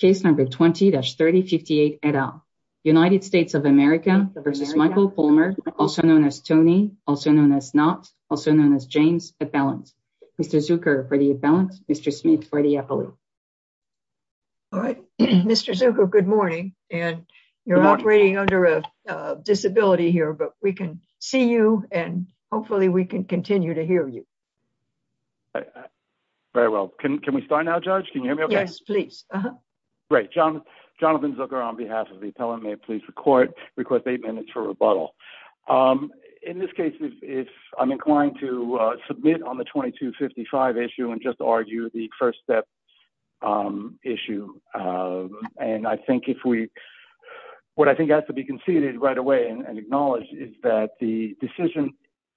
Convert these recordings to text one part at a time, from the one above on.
v. Michael Palmer, also known as Tony, also known as not also known as James at balance. Mr. Zucker for the balance, Mr. Smith for the Apple. All right, Mr. Good morning, and you're operating under a disability here but we can see you, and hopefully we can continue to hear you. Very well. Can we start now, Judge? Can you hear me? Yes, please. Great job. Jonathan Zucker on behalf of the appellate may please record request eight minutes for rebuttal. In this case, if I'm inclined to submit on the 2255 issue and just argue the first step issue. And I think if we, what I think has to be conceded right away and acknowledge is that the decision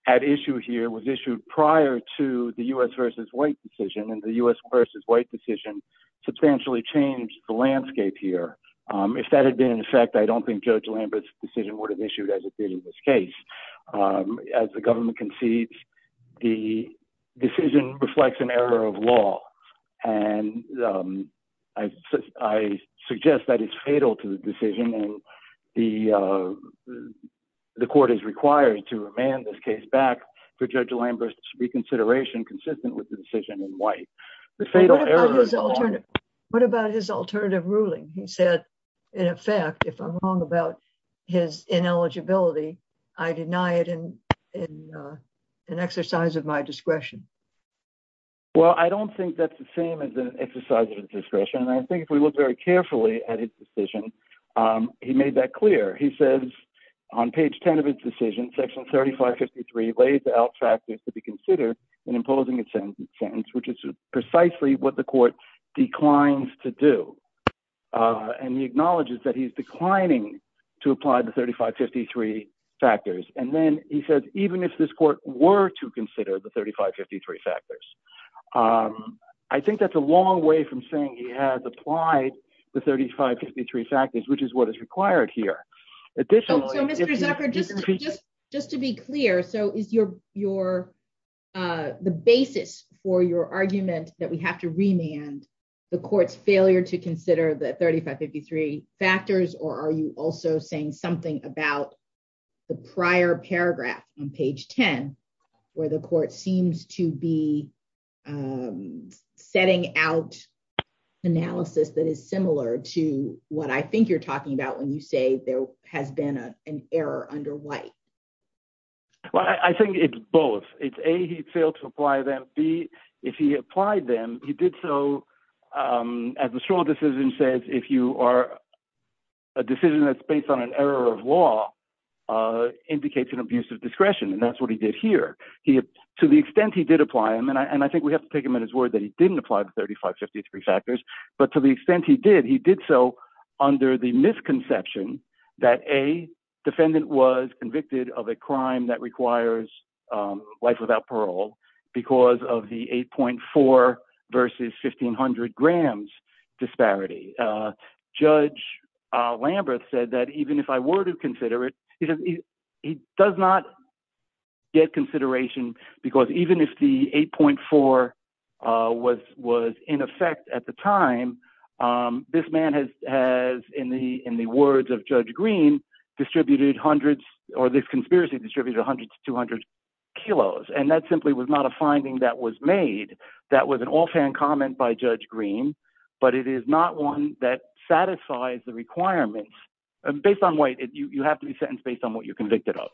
at issue here was issued prior to the US versus white decision and the US versus white decision substantially changed the landscape here. If that had been in effect I don't think Judge Lambert's decision would have issued as it did in this case, as the government concedes the decision reflects an error of law. And I suggest that it's fatal to the decision and the court is required to remand this case back to Judge Lambert's reconsideration consistent with the decision in white. What about his alternative ruling he said, in effect, if I'm wrong about his ineligibility. I deny it in an exercise of my discretion. Well, I don't think that's the same as an exercise of discretion. And I think if we look very carefully at his decision, he made that clear. He says on page 10 of his decision section 3553 lays out factors to be considered in imposing a sentence sentence, which is precisely what the court declines to do. And he acknowledges that he's declining to apply the 3553 factors and then he says, even if this court were to consider the 3553 factors. I think that's a long way from saying he has applied the 3553 factors which is what is required here. So Mr. Zucker just just just to be clear, so is your, your, the basis for your argument that we have to remand the court's failure to consider the 3553 factors or are you also saying something about the prior paragraph on page 10, where the court seems to be Setting out analysis that is similar to what I think you're talking about when you say there has been an error under white Well, I think it's both. It's a he failed to apply them be if he applied them. He did so as a strong decision says if you are a decision that's based on an error of law. Indicates an abuse of discretion. And that's what he did here. He, to the extent he did apply them and I and I think we have to take him in his word that he didn't apply the 3553 factors. But to the extent he did he did so under the misconception that a defendant was convicted of a crime that requires Life without parole, because of the 8.4 versus 1500 grams disparity judge Lambert said that even if I were to consider it, he does not get consideration because even if the 8.4 was was in effect at the time. This man has has in the in the words of judge green distributed hundreds or this conspiracy distributed 100 to 200 kilos and that simply was not a finding that was made. That was an offhand comment by Judge green, but it is not one that satisfies the requirements. Based on weight, you have to be sentenced based on what you're convicted of.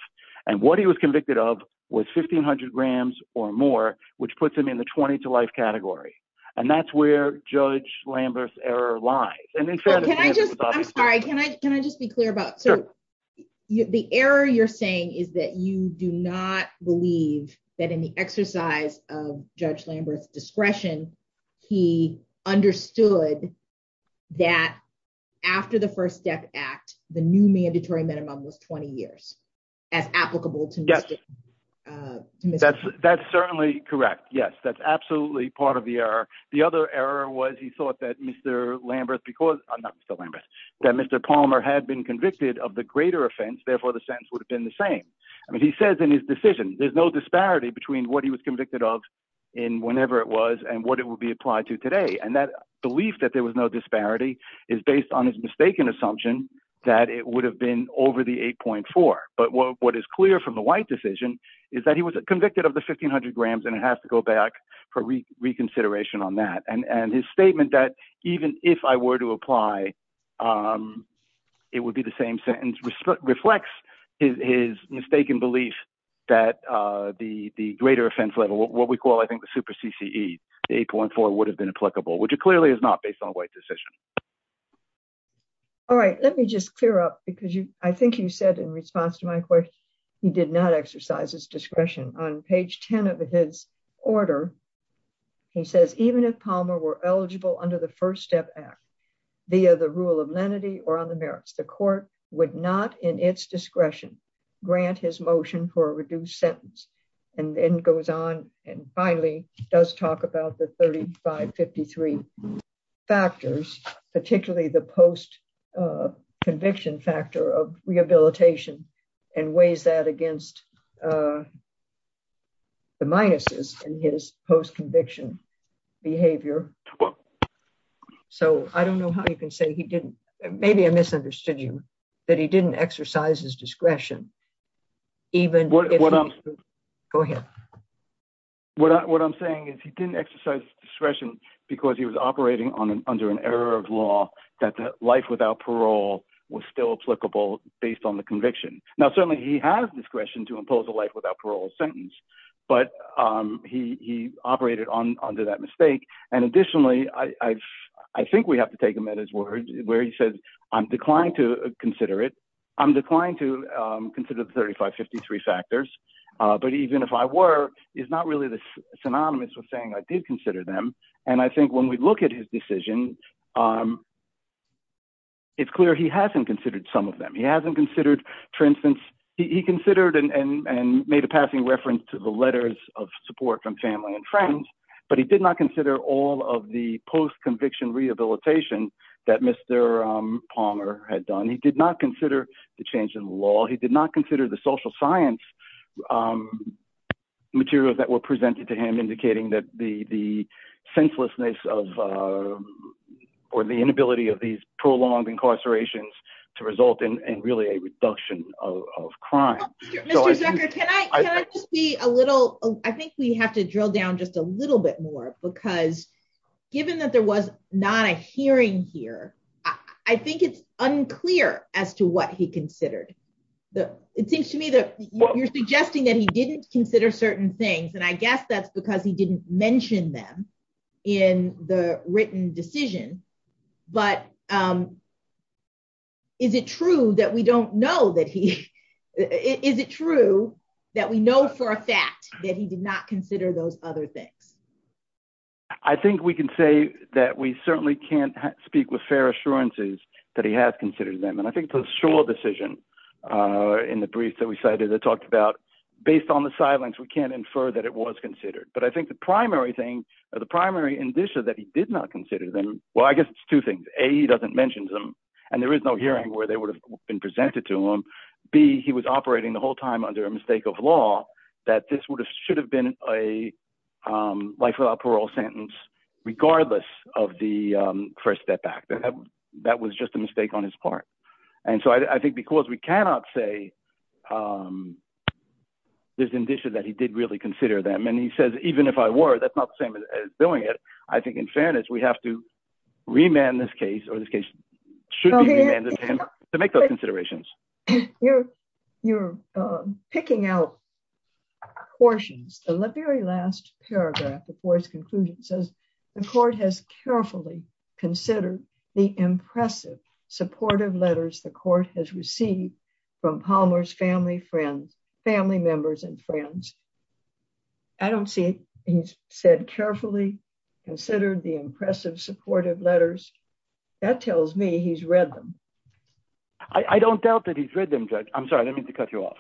And what he was convicted of was 1500 grams or more, which puts them in the 20 to life category. And that's where Judge Lambert's error lies. And in fact, I'm sorry, can I can I just be clear about. So, the error you're saying is that you do not believe that in the exercise of Judge Lambert's discretion. He understood that after the first step act, the new mandatory minimum was 20 years as applicable to. That's, that's certainly correct. Yes, that's absolutely part of the error. The other error was he thought that Mr Lambert because I'm not Mr Lambert that Mr Palmer had been convicted of the greater offense, therefore, the sense would have been the same. I mean, he says in his decision, there's no disparity between what he was convicted of in whenever it was and what it will be applied to today and that belief that there was no disparity is based on his mistaken assumption that it would have been over the 8.4. But what is clear from the white decision is that he was convicted of the 1500 grams and it has to go back for reconsideration on that and and his statement that even if I were to apply. It would be the same sentence reflects his mistaken belief that the, the greater offense level what we call I think the super CCE 8.4 would have been applicable would you clearly is not based on white decision. All right, let me just clear up because you, I think you said in response to my question. He did not exercise his discretion on page 10 of his order. He says, even if Palmer were eligible under the First Step Act, via the rule of lenity or on the merits the court would not in its discretion, grant his motion for a reduced sentence, and then goes on, and finally, does talk about the 3553 factors, particularly the post conviction factor of rehabilitation and ways that against the minuses in his post conviction behavior. So, I don't know how you can say he didn't. Maybe I misunderstood you that he didn't exercise his discretion. Even what I'm saying is he didn't exercise discretion, because he was operating on under an error of law that life without parole was still applicable, based on the conviction. Now certainly he has discretion to impose a life without parole sentence, but he operated on under that mistake. And additionally, I think we have to take him at his word where he says, I'm declined to consider it. I'm declined to consider the 3553 factors, but even if I were is not really synonymous with saying I did consider them. And I think when we look at his decision. It's clear he hasn't considered some of them he hasn't considered. For instance, he considered and made a passing reference to the letters of support from family and friends, but he did not consider all of the post conviction rehabilitation that Mr. Palmer had done he did not consider the change in law he did not consider the social science materials that were presented to him indicating that the the senselessness of, or the inability of these prolonged incarcerations to result in really a reduction of crime. Can I be a little, I think we have to drill down just a little bit more, because given that there was not a hearing here. I think it's unclear as to what he considered the, it seems to me that you're suggesting that he didn't consider certain things and I guess that's true that he didn't mention them in the written decision, but is it true that we don't know that he is it true that we know for a fact that he did not consider those other things. I think we can say that we certainly can't speak with fair assurances that he has considered them and I think the shore decision in the brief that we cited that talked about, based on the silence we can infer that it was considered but I think the primary thing, the primary condition that he did not consider them. Well, I guess it's two things a doesn't mention them. And there is no hearing where they would have been presented to him. Be he was operating the whole time under a mistake of law that this would have should have been a life without parole sentence, regardless of the first step back that that was just a mistake on his part. And so I think because we cannot say there's an issue that he did really consider them and he says, even if I were that's not the same as doing it. I think in fairness, we have to remand this case or this case should make those considerations. You're, you're picking out portions of the very last paragraph before his conclusion says the court has carefully considered the impressive supportive letters the court has received from Palmer's family friends, family members and friends. I don't see. He said carefully considered the impressive supportive letters that tells me he's read them. I don't doubt that he's read them. I'm sorry, I didn't mean to cut you off,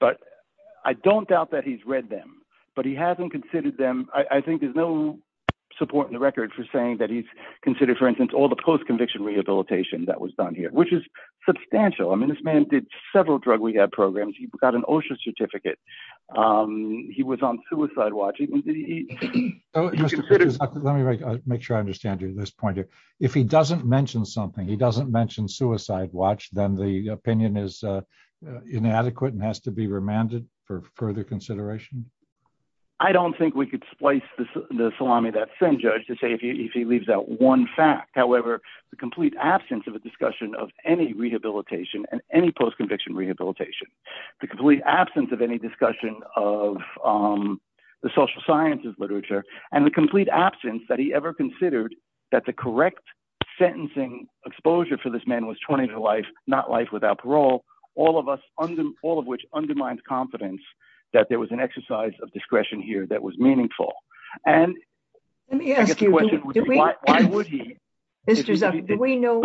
but I don't doubt that he's read them, but he hasn't considered them. I think there's no support in the record for saying that he's considered for instance all the post conviction rehabilitation that was done here, which is substantial. I mean this man did several drug rehab programs, you've got an OSHA certificate. He was on suicide watch. Let me make sure I understand you this point if if he doesn't mention something he doesn't mention suicide watch them the opinion is inadequate and has to be remanded for further consideration. I don't think we could splice the salami that same judge to say if he leaves out one fact, however, the complete absence of a discussion of any rehabilitation and any post conviction rehabilitation, the complete absence of any discussion of the social sciences literature, and the complete absence that he ever considered that the correct sentencing exposure for this man was 20 to life, not life without parole, all of us under all of which undermines confidence that there was an exercise of discretion here that was meaningful. And, let me ask you, why would he. This is a, we know,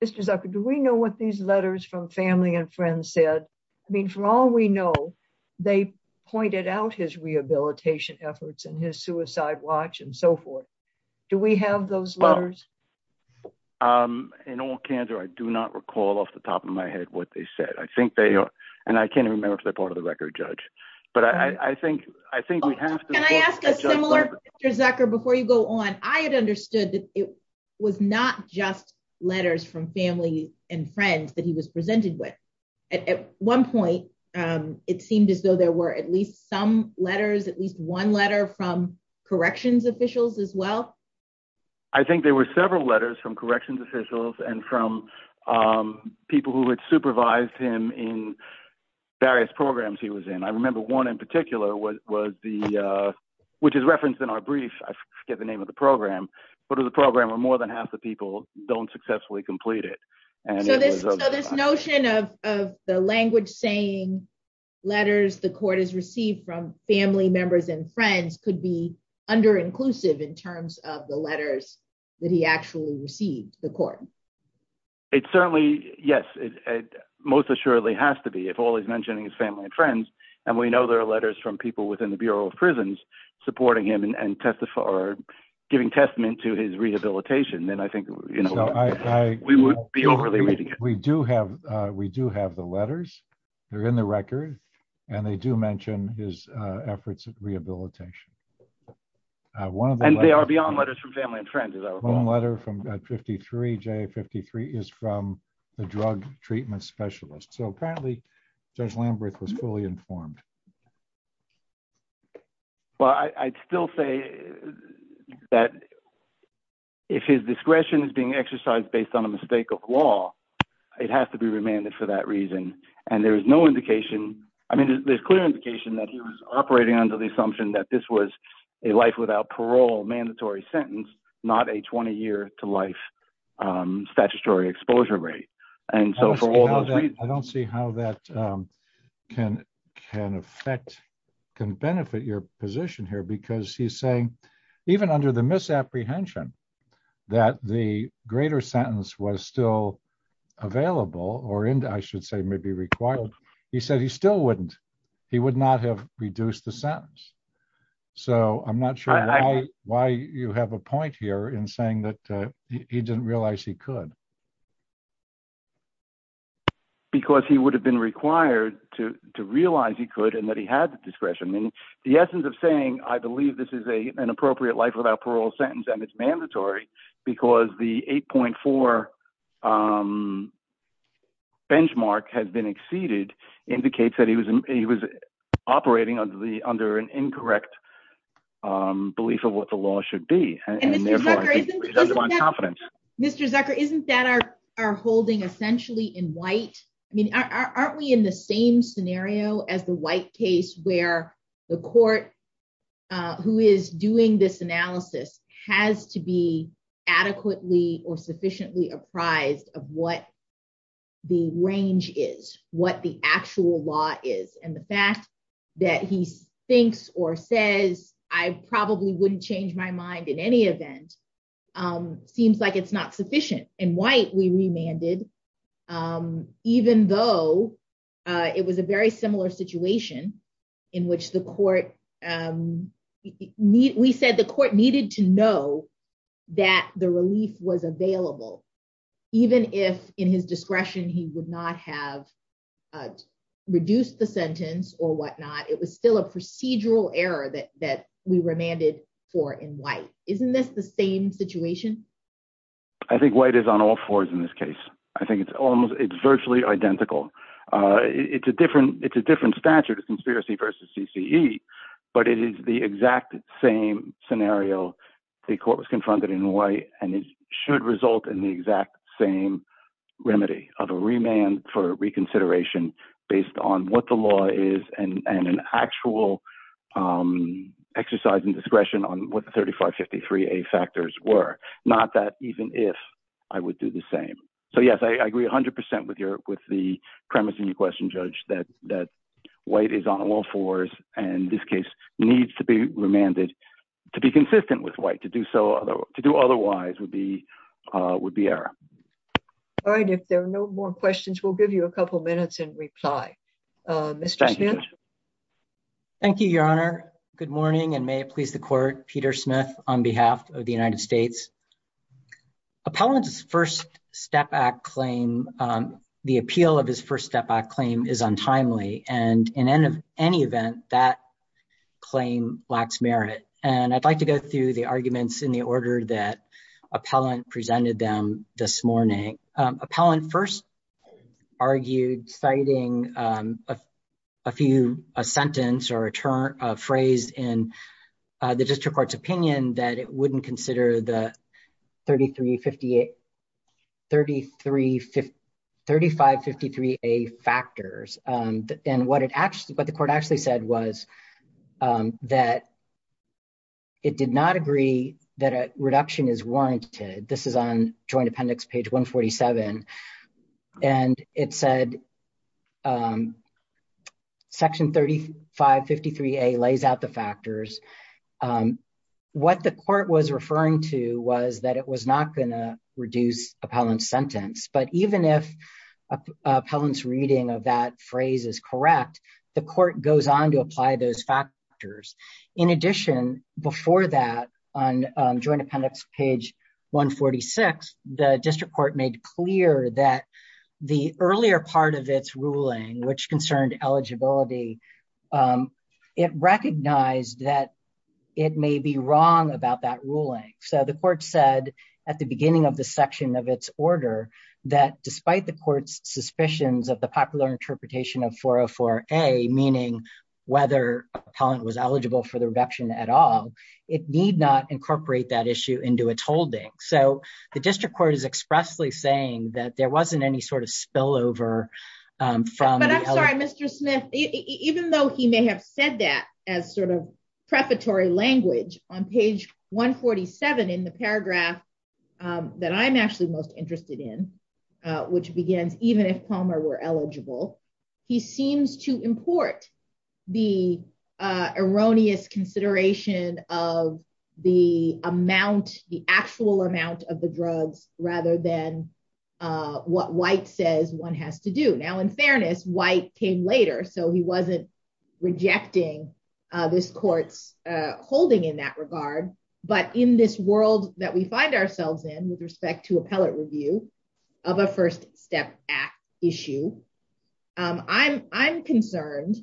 this is a, do we know what these letters from family and friends said, I mean for all we know, they pointed out his rehabilitation efforts and his suicide watch and so forth. Do we have those letters. In all candor I do not recall off the top of my head what they said I think they are, and I can't remember if they're part of the record judge, but I think, I think we have to ask a similar Zucker before you go on, I had understood that it was not just letters from family and friends that he was presented with. At one point, it seemed as though there were at least some letters at least one letter from corrections officials as well. I think there were several letters from corrections officials and from people who would supervise him in various programs he was in I remember one in particular was, was the, which is referenced in our brief, I forget the name of the program. What are the program or more than half the people don't successfully completed. This notion of the language saying letters the court has received from family members and friends could be under inclusive in terms of the letters that he actually received the court. It's certainly, yes, most assuredly has to be if always mentioning his family and friends, and we know there are letters from people within the Bureau of Prisons, supporting him and testify or giving testament to his rehabilitation and I think, you know, we would be overly we do have, we do have the letters are in the record. And they do mention his efforts of rehabilitation. One of them and they are beyond letters from family and friends is a letter from 53 j 53 is from the drug treatment specialist so apparently there's Lambert was fully informed. Well, I'd still say that if his discretion is being exercised based on a mistake of law. It has to be remanded for that reason. And there is no indication. I mean, there's clear indication that he was operating under the assumption that this was a life without parole mandatory sentence, not a 20 year to life statutory exposure rate. I don't see how that can can affect can benefit your position here because he's saying, even under the misapprehension that the greater sentence was still available or and I should say maybe required. He said he still wouldn't, he would not have reduced the sentence. So I'm not sure why you have a point here in saying that he didn't realize he could because he would have been required to realize he could and that he had the discretion and the essence of saying, I believe this is a an appropriate life without parole sentence and it's mandatory, because the 8.4 benchmark has been exceeded indicates that he was, he was operating on the under an incorrect belief of what the law should be. Mr Zucker isn't that our, our holding essentially in white. I mean, aren't we in the same scenario as the white case where the court, who is doing this analysis has to be adequately or sufficiently apprised of what the range is what the actual law is and the fact that he thinks or says, I probably wouldn't change my mind in any event, seems like it's not sufficient and white we remanded, even though it was a very similar situation in which the court need we said the court needed to know that the relief was available, even if in his discretion he would not have reduced the sentence or whatnot it was still a procedural error that that we remanded for in white, isn't this the same situation. I think white is on all fours in this case, I think it's almost it's virtually identical. It's a different, it's a different statute of conspiracy versus CCE, but it is the exact same scenario. The court was confronted in white, and it should result in the exact same remedy of a remand for reconsideration, based on what the law is and an actual exercise and discretion on what the 3553 a factors were not that even if I would do the same. So yes, I agree 100% with your, with the premise in your question judge that that white is on all fours, and this case needs to be remanded to be consistent with white to do so, to do otherwise would be would be error. All right, if there are no more questions we'll give you a couple minutes and reply. Mr. Thank you, Your Honor. Good morning and may it please the court, Peter Smith, on behalf of the United States. Appellant's first step back claim. The appeal of his first step back claim is untimely and in any event that claim lacks merit, and I'd like to go through the arguments in the order that appellant presented them this morning. Appellant first argued citing a few, a sentence or a term of phrase in the district court's opinion that it wouldn't consider the 3358 33535 53 a factors. And what it actually what the court actually said was that it did not agree that a reduction is warranted. This is on joint appendix page 147, and it said, section 3553 a lays out the factors. What the court was referring to was that it was not going to reduce appellant sentence but even if appellant's reading of that phrase is correct. The court goes on to apply those factors. In addition, before that, on joint appendix page 146, the district court made clear that the earlier part of its ruling which concerned eligibility. It recognized that it may be wrong about that ruling. So the court said at the beginning of the section of its order that despite the court's suspicions of the popular interpretation of 404 a meaning whether appellant was eligible for the reduction at all. It need not incorporate that issue into its holding. So, the district court is expressly saying that there wasn't any sort of spillover from Mr. Smith, even though he may have said that as sort of prefatory language on page 147 in the paragraph that I'm actually most interested in, which begins, even if Palmer were eligible. He seems to import the erroneous consideration of the amount, the actual amount of the drugs, rather than what white says one has to do now in fairness white came later so he wasn't rejecting this courts, holding in that regard, but in this world that we I'm, I'm concerned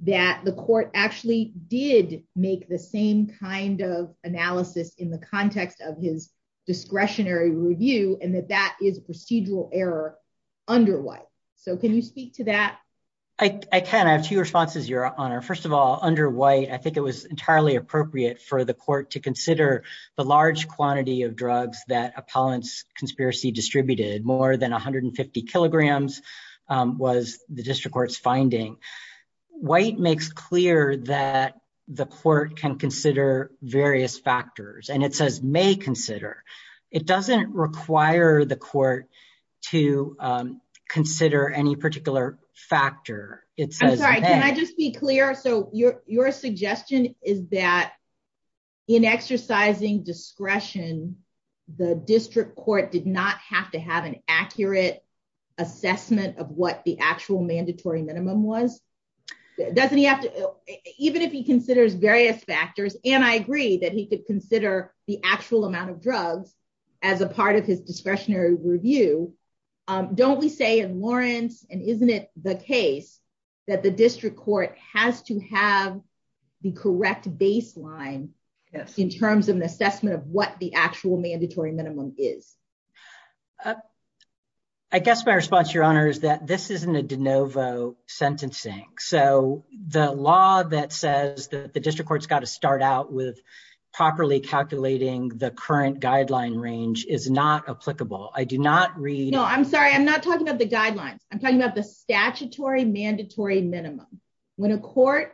that the court actually did make the same kind of analysis in the context of his discretionary review and that that is procedural error under white. So can you speak to that. I can I have two responses your honor. First of all, under why I think it was entirely appropriate for the court to consider the large quantity of drugs that appellants conspiracy distributed more than 150 kilograms was the district court's finding white makes clear that the court can consider various factors and it says may consider. It doesn't require the court to consider any particular factor, it says, I just be clear so your, your suggestion is that in exercising discretion. The district court did not have to have an accurate assessment of what the actual mandatory minimum was, doesn't he have to even if he considers various factors, and I agree that he could consider the actual amount of drugs as a part of his discretionary Don't we say in Lawrence, and isn't it the case that the district court has to have the correct baseline in terms of an assessment of what the actual mandatory minimum is I guess my response your honor is that this isn't a de novo sentencing. So, the law that says that the district court's got to start out with properly calculating the current guideline range is not applicable. I do not read I'm sorry I'm not talking about the guidelines, I'm talking about the statutory mandatory minimum. When a court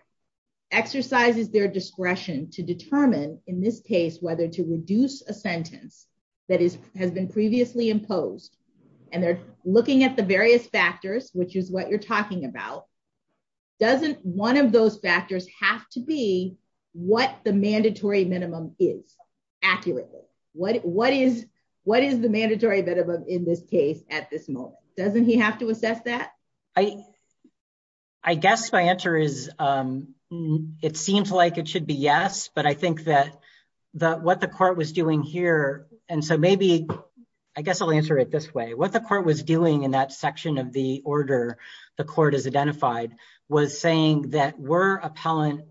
exercises their discretion to determine in this case whether to reduce a sentence that is has been previously imposed, and they're at this moment, doesn't he have to assess that I, I guess my answer is, it seems like it should be yes but I think that the what the court was doing here. And so maybe I guess I'll answer it this way what the court was doing in that section of the order. The court is identified was saying that were appellant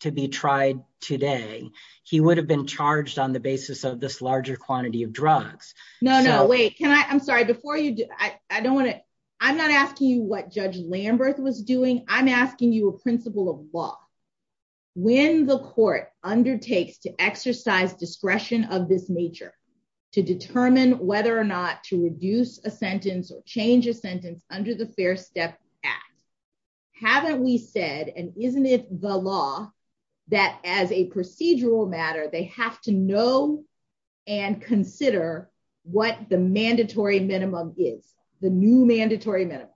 to be tried today, he would have been charged on the basis of this larger quantity of drugs. No, no, wait, can I I'm sorry before you do, I don't want to. I'm not asking you what Judge Lambert was doing, I'm asking you a principle of law. When the court undertakes to exercise discretion of this nature to determine whether or not to reduce a sentence or change a sentence under the Fair Step Act. Haven't we said and isn't it the law that as a procedural matter they have to know and consider what the mandatory minimum is the new mandatory minimum.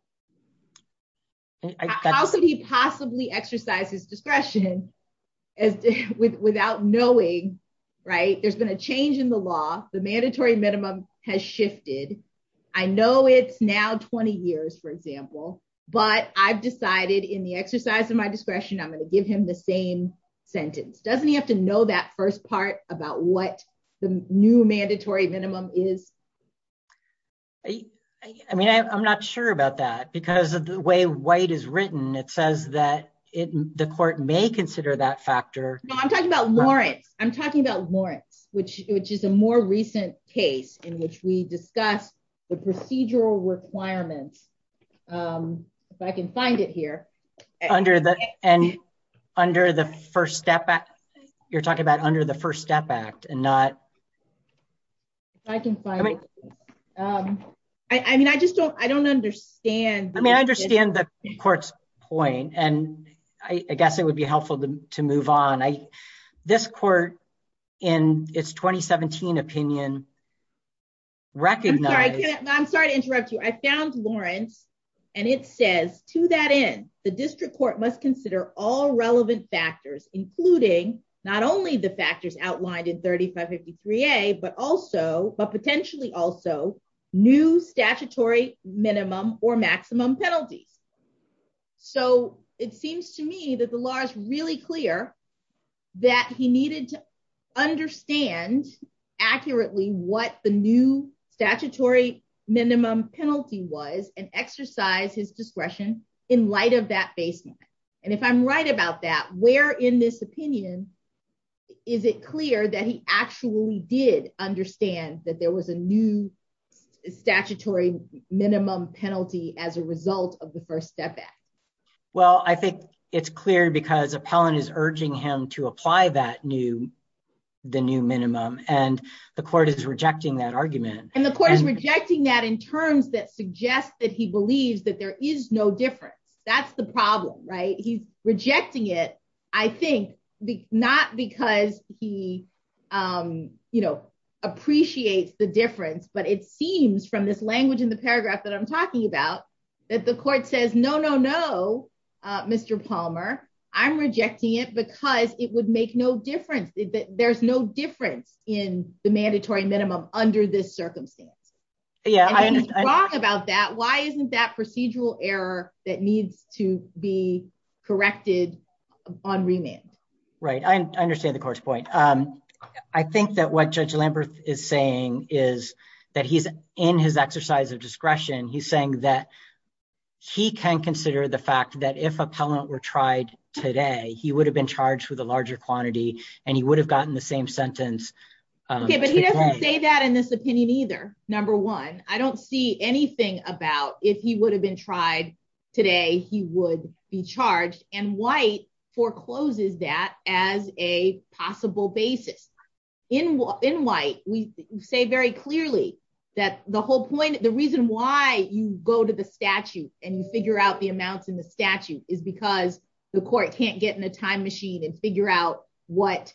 How could he possibly exercises discretion as without knowing right there's been a change in the law, the mandatory minimum has shifted. I know it's now 20 years for example, but I've decided in the exercise of my discretion I'm going to give him the same sentence doesn't have to know that first part about what the new mandatory minimum is. I mean I'm not sure about that because of the way white is written it says that it, the court may consider that factor. I'm talking about Lawrence, I'm talking about Lawrence, which, which is a more recent case in which we discussed the procedural requirements. If I can find it here. Under the, and under the first step back, you're talking about under the first step back and not. I can find it. I mean I just don't, I don't understand, I mean I understand the court's point and I guess it would be helpful to move on. I, this court in its 2017 opinion, recognize, I'm sorry to interrupt you I found Lawrence, and it says to that in the district court must consider all relevant factors, including not only the factors outlined in 3553 a but also, but potentially also new statutory minimum or maximum penalties. So, it seems to me that the law is really clear that he needed to understand accurately what the new statutory minimum penalty was and exercise his discretion in light of that baseline. And if I'm right about that, where in this opinion. Is it clear that he actually did understand that there was a new statutory minimum penalty as a result of the first step back. Well, I think it's clear because appellant is urging him to apply that new the new minimum, and the court is rejecting that argument, and the court is rejecting that in terms that suggests that he believes that there is no difference. That's the problem right he's rejecting it. I think, not because he, you know, appreciates the difference but it seems from this language in the paragraph that I'm talking about that the court says no no no. Mr Palmer, I'm rejecting it because it would make no difference. There's no difference in the mandatory minimum under this circumstance. Yeah, I know about that why isn't that procedural error that needs to be corrected on remand. Right, I understand the course point. I think that what Judge Lambert is saying is that he's in his exercise of discretion he's saying that he can consider the fact that if appellant were tried today, he would have been charged with a larger quantity, and he would have gotten the same sentence. Okay, but he doesn't say that in this opinion either. Number one, I don't see anything about if he would have been tried. Today, he would be charged and white forecloses that as a possible basis in in white, we say very clearly that the whole point the reason why you go to the statute, and you figure out the amounts in the statute is because the court can't get in a time machine and figure out what,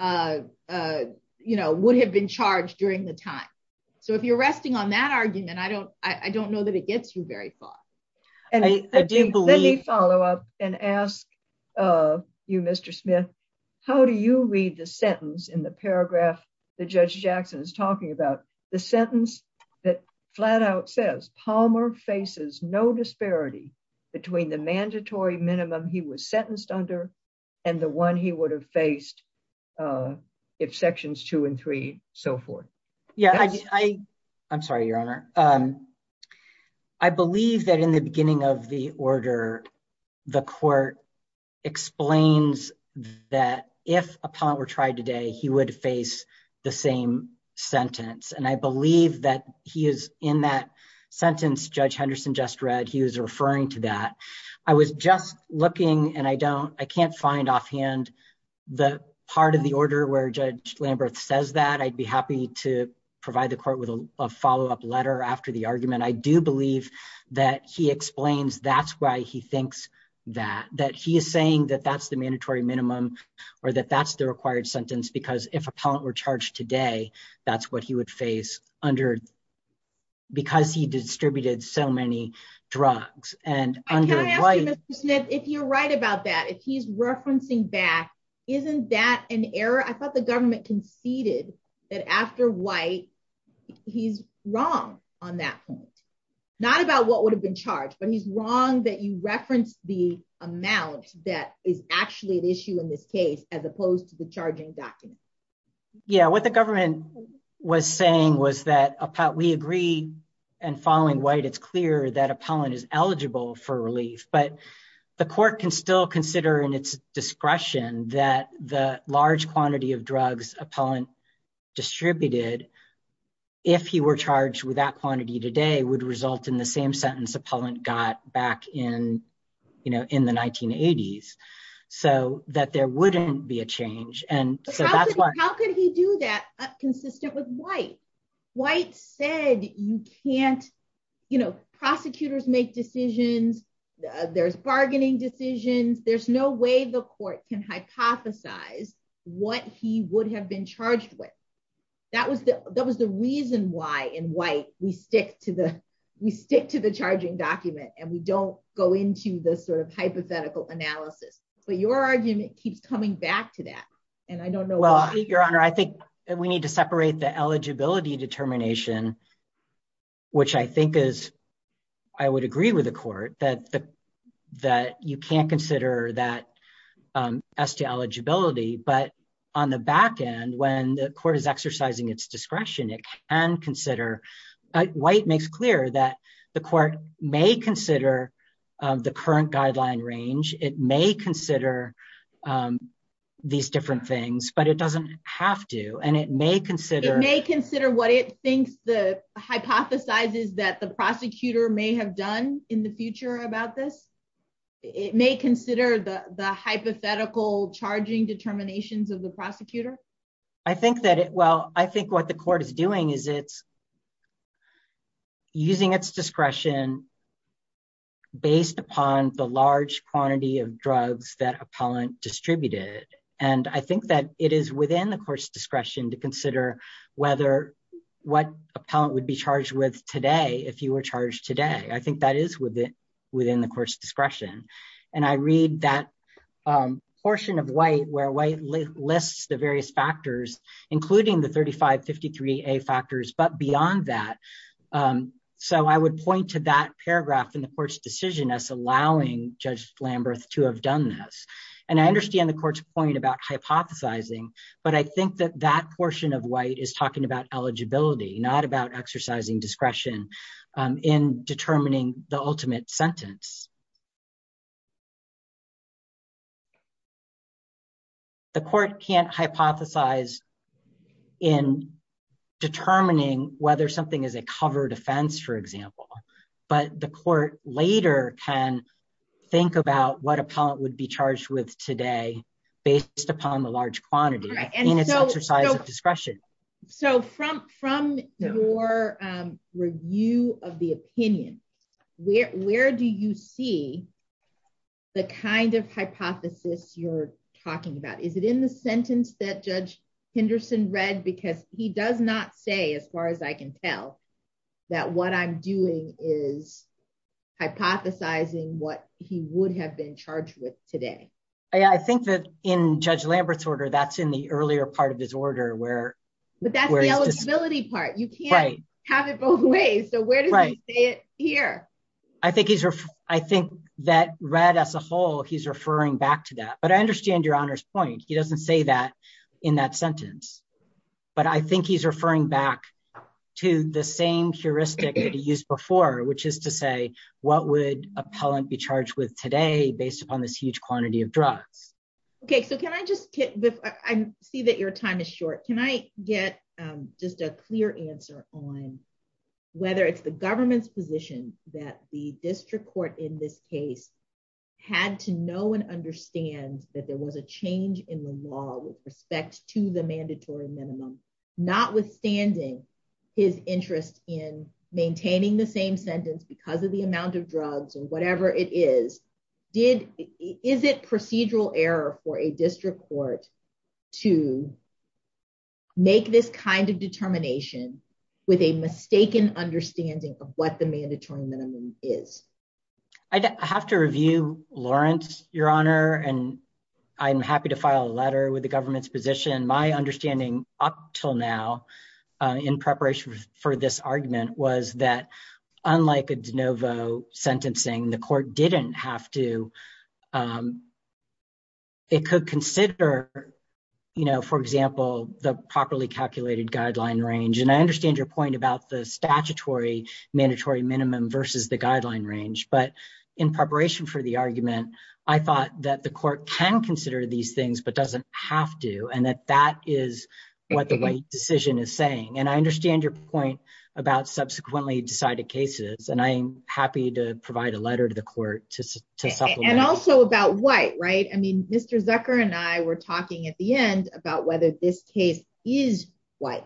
you know, would have been charged during the time. So if you're resting on that argument I don't, I don't know that it gets you very far. I do believe follow up and ask you, Mr. Smith. How do you read the sentence in the paragraph, the judge Jackson is talking about the sentence that flat out says Palmer faces no disparity between the mandatory minimum he was sentenced under, and the one he would have faced. If sections two and three, so forth. Yeah, I, I'm sorry, Your Honor. I believe that in the beginning of the order. The court explains that if upon were tried today he would face the same sentence and I believe that he is in that sentence judge Henderson just read he was referring to that. I was just looking and I don't, I can't find offhand. The part of the order where judge Lambert says that I'd be happy to provide the court with a follow up letter after the argument I do believe that he explains that's why he thinks that that he is saying that that's the mandatory minimum, or that that's the required sentence because if upon were charged today. That's what he would face under because he distributed so many drugs, and if you're right about that if he's referencing back. Isn't that an error I thought the government conceded that after white. He's wrong on that point, not about what would have been charged but he's wrong that you reference the amount that is actually an issue in this case, as opposed to the charging document. Yeah, what the government was saying was that we agree and following white it's clear that a pollen is eligible for relief but the court can still consider and it's discretion that the large quantity of drugs, a pollen distributed. If he were charged with that quantity today would result in the same sentence appellant got back in, you know, in the 1980s, so that there wouldn't be a change and so that's what how could he do that, consistent with white white said, you can't, you know, prosecutors make decisions. There's bargaining decisions, there's no way the court can hypothesize what he would have been charged with. That was the, that was the reason why in white, we stick to the, we stick to the charging document and we don't go into the sort of hypothetical analysis, but your argument keeps coming back to that. And I don't know why your honor I think we need to separate the eligibility determination, which I think is, I would agree with the court that that you can't consider that as to eligibility but on the back end when the court is exercising its discretion it can consider white makes clear that the court may consider the current guideline range, it may consider these different things but it doesn't have to and it may consider may consider what it thinks the hypothesize is that the prosecutor may have done in the future about this. It may consider the hypothetical charging determinations of the prosecutor. I think that it well I think what the court is doing is it's using its discretion, based upon the large quantity of drugs that appellant distributed, and I think that it is within the court's discretion to consider whether what appellant would be charged with today if you were charged today I think that is within within the court's discretion, and I read that portion of white where white lists the various factors, including the 3553 a factors but beyond that. So I would point to that paragraph in the court's decision as allowing Judge Lambert to have done this, and I understand the court's point about hypothesizing, but I think that that portion of white is talking about eligibility, not about exercising discretion in determining the ultimate sentence. The court can't hypothesize in determining whether something is a covered offense, for example, but the court later can think about what appellant would be charged with today, based upon the large quantity and exercise of discretion. So from from your review of the opinion, where, where do you see the kind of hypothesis, you're talking about is it in the sentence that Judge Henderson read because he does not say as far as I can tell that what I'm doing is hypothesizing what he would have been charged with today. I think that in Judge Lambert's order that's in the earlier part of his order where, where is the ability part you can't have it both ways. So where does it here. I think he's, I think that read as a whole he's referring back to that but I understand your honor's point he doesn't say that in that sentence. But I think he's referring back to the same heuristic that he used before, which is to say, what would appellant be charged with today based upon this huge quantity of drugs. Okay, so can I just see that your time is short, can I get just a clear answer on whether it's the government's position that the district court in this case, had to know and understand that there was a change in the law with respect to the mandatory minimum, not court to make this kind of determination, with a mistaken understanding of what the mandatory minimum is, I have to review Lawrence, Your Honor, and I'm happy to file a letter with the government's position my understanding up till now, in preparation for this argument was that, unlike a de novo sentencing the court didn't have to. It could consider, you know, for example, the properly calculated guideline range and I understand your point about the statutory mandatory minimum versus the guideline range but in preparation for the argument. I thought that the court can consider these things but doesn't have to and that that is what the decision is saying and I understand your point about subsequently decided cases and I'm happy to provide a letter to the court to. And also about white right I mean Mr Zucker and I were talking at the end about whether this case is white,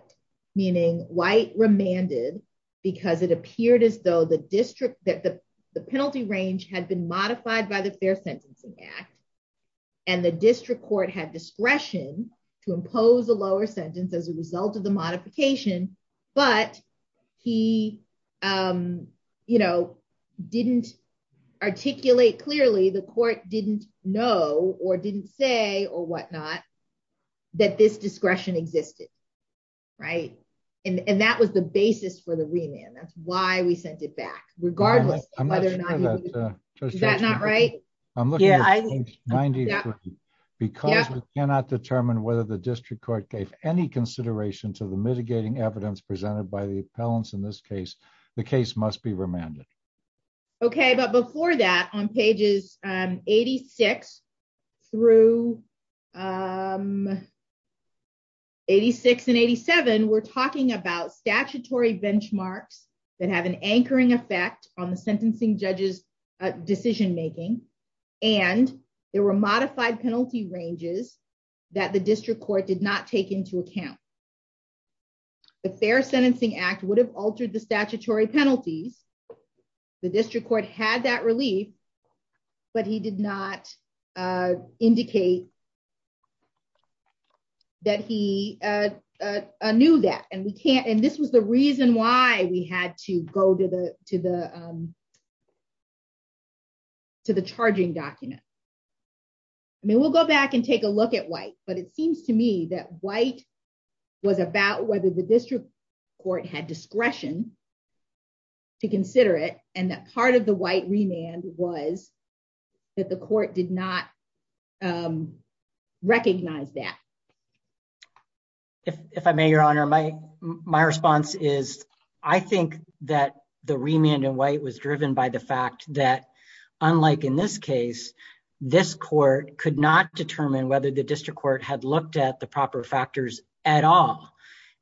meaning white remanded, because it appeared as though the district that the penalty range had been modified by the Fair Sentencing Act, and the district clearly the court didn't know or didn't say or whatnot, that this discretion existed. Right. And that was the basis for the remand that's why we sent it back, regardless of whether or not that's not right. Yeah. Because we cannot determine whether the district court gave any consideration to the mitigating evidence presented by the appellants in this case, the case must be remanded. Okay, but before that on pages, 86 through 86 and 87 we're talking about statutory benchmarks that have an anchoring effect on the sentencing judges decision making, and there were modified penalty ranges that the district court did not take into account. The Fair Sentencing Act would have altered the statutory penalties. The district court had that relief. But he did not indicate that he knew that and we can't and this was the reason why we had to go to the, to the, to the charging document. I mean we'll go back and take a look at white, but it seems to me that white was about whether the district court had discretion to consider it, and that part of the white remand was that the court did not recognize that. If I may, Your Honor, my, my response is, I think that the remand and white was driven by the fact that, unlike in this case, this court could not determine whether the district court had looked at the proper factors at all.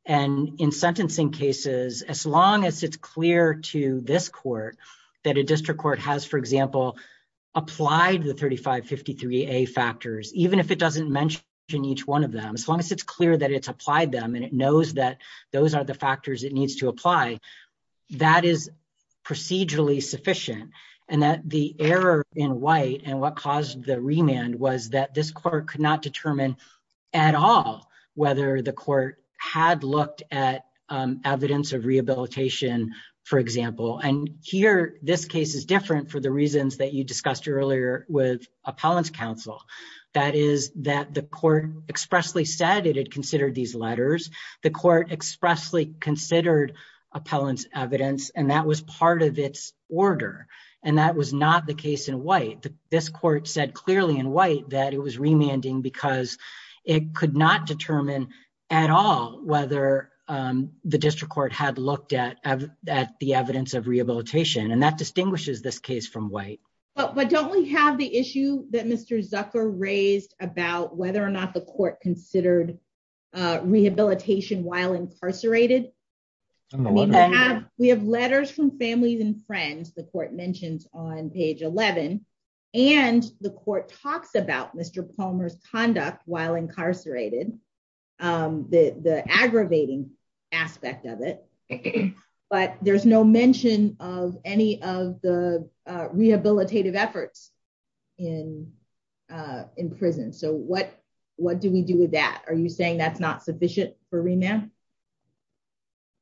And in sentencing cases, as long as it's clear to this court that a district court has, for example, applied the 3553 a factors, even if it doesn't mention each one of them as long as it's clear that it's applied them and it knows that those are the factors it needs to apply, that is procedurally sufficient, and that the error in white and what caused the remand was that this court could not determine at all, whether the court had looked at evidence of rehabilitation. For example, and here, this case is different for the reasons that you discussed earlier with appellants counsel, that is that the court expressly said it had considered these letters, the court expressly considered appellants evidence and that was part of its order. And that was not the case in white, this court said clearly in white that it was remanding because it could not determine at all, whether the district court had looked at, at the evidence of rehabilitation and that distinguishes this case from white, but but don't we have the issue that Mr Zucker raised about whether or not the court considered rehabilitation while incarcerated. We have letters from families and friends, the court mentions on page 11, and the court talks about Mr Palmer's conduct while incarcerated, the aggravating aspect of it. But there's no mention of any of the rehabilitative efforts in, in prison so what, what do we do with that, are you saying that's not sufficient for remand.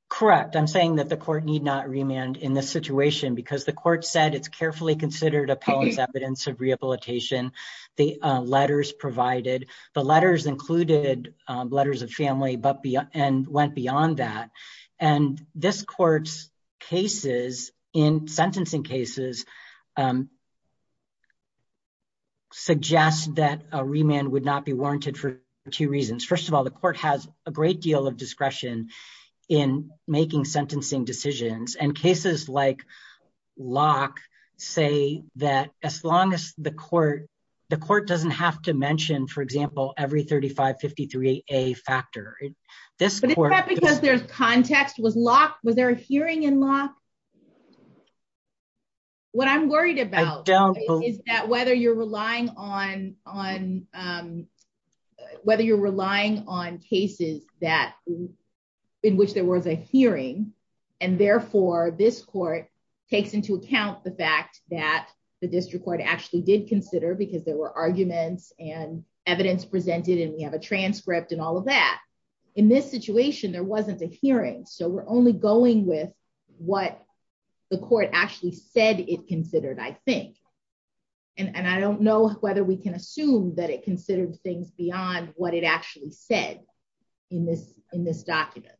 Correct, I'm saying that the court need not remand in this situation because the court said it's carefully considered appellants evidence of rehabilitation, the letters provided the letters included letters of family but be and went beyond that. And this court's cases in sentencing cases suggest that a remand would not be warranted for two reasons. First of all, the court has a great deal of discretion in making sentencing decisions and cases like lock, say that as long as the court. The court doesn't have to mention for example every 3553 a factor. This is because there's context was locked was there a hearing in law. What I'm worried about is that whether you're relying on on whether you're relying on cases that in which there was a hearing. And therefore, this court takes into account the fact that the district court actually did consider because there were arguments and evidence presented and we have a transcript and all of that. In this situation, there wasn't a hearing so we're only going with what the court actually said it considered I think. And I don't know whether we can assume that it considered things beyond what it actually said in this in this document.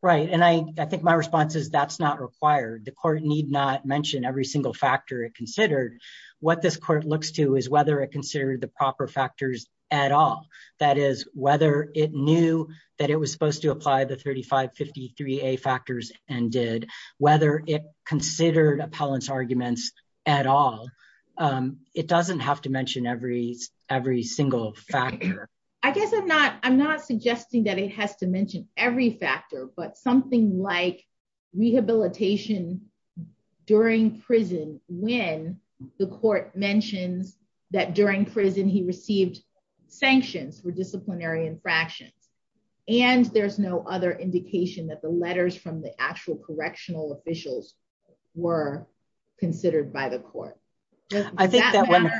Right. And I think my response is that's not required the court need not mention every single factor it considered what this court looks to is whether it considered the proper factors at all. That is, whether it knew that it was supposed to apply the 3553 a factors and did whether it considered appellants arguments at all. It doesn't have to mention every, every single factor. I guess I'm not, I'm not suggesting that it has to mention every factor but something like rehabilitation. During prison, when the court mentions that during prison he received sanctions for disciplinary infractions, and there's no other indication that the letters from the actual correctional officials were considered by the court. I think that when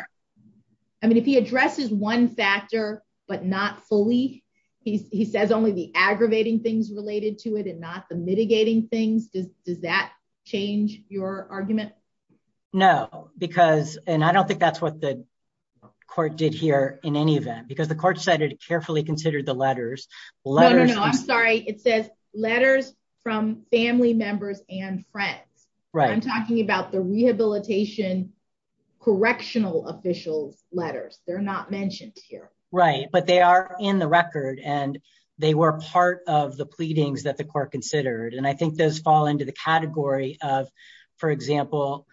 I mean if he addresses one factor, but not fully. He says only the aggravating things related to it and not the mitigating things does, does that change your argument. No, because, and I don't think that's what the court did here, in any event, because the court said it carefully considered the letters letters. Sorry, it says letters from family members and friends. Right, I'm talking about the rehabilitation correctional officials letters, they're not mentioned here, right, but they are in the record and they were part of the pleadings that the court considered and I think those fall into the category of, for example,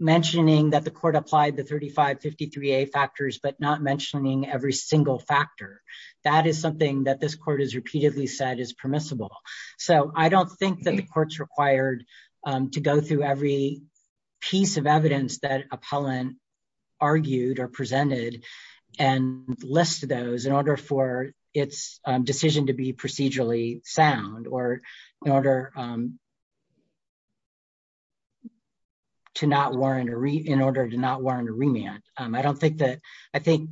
mentioning that the court applied the 3553 a factors but not mentioning every single factor. That is something that this court has repeatedly said is permissible. So I don't think that the courts required to go through every piece of evidence that appellant argued or presented and list those in order for its decision to be procedurally sound or in order to not warrant a read in order to not warrant a remand. I don't think that I think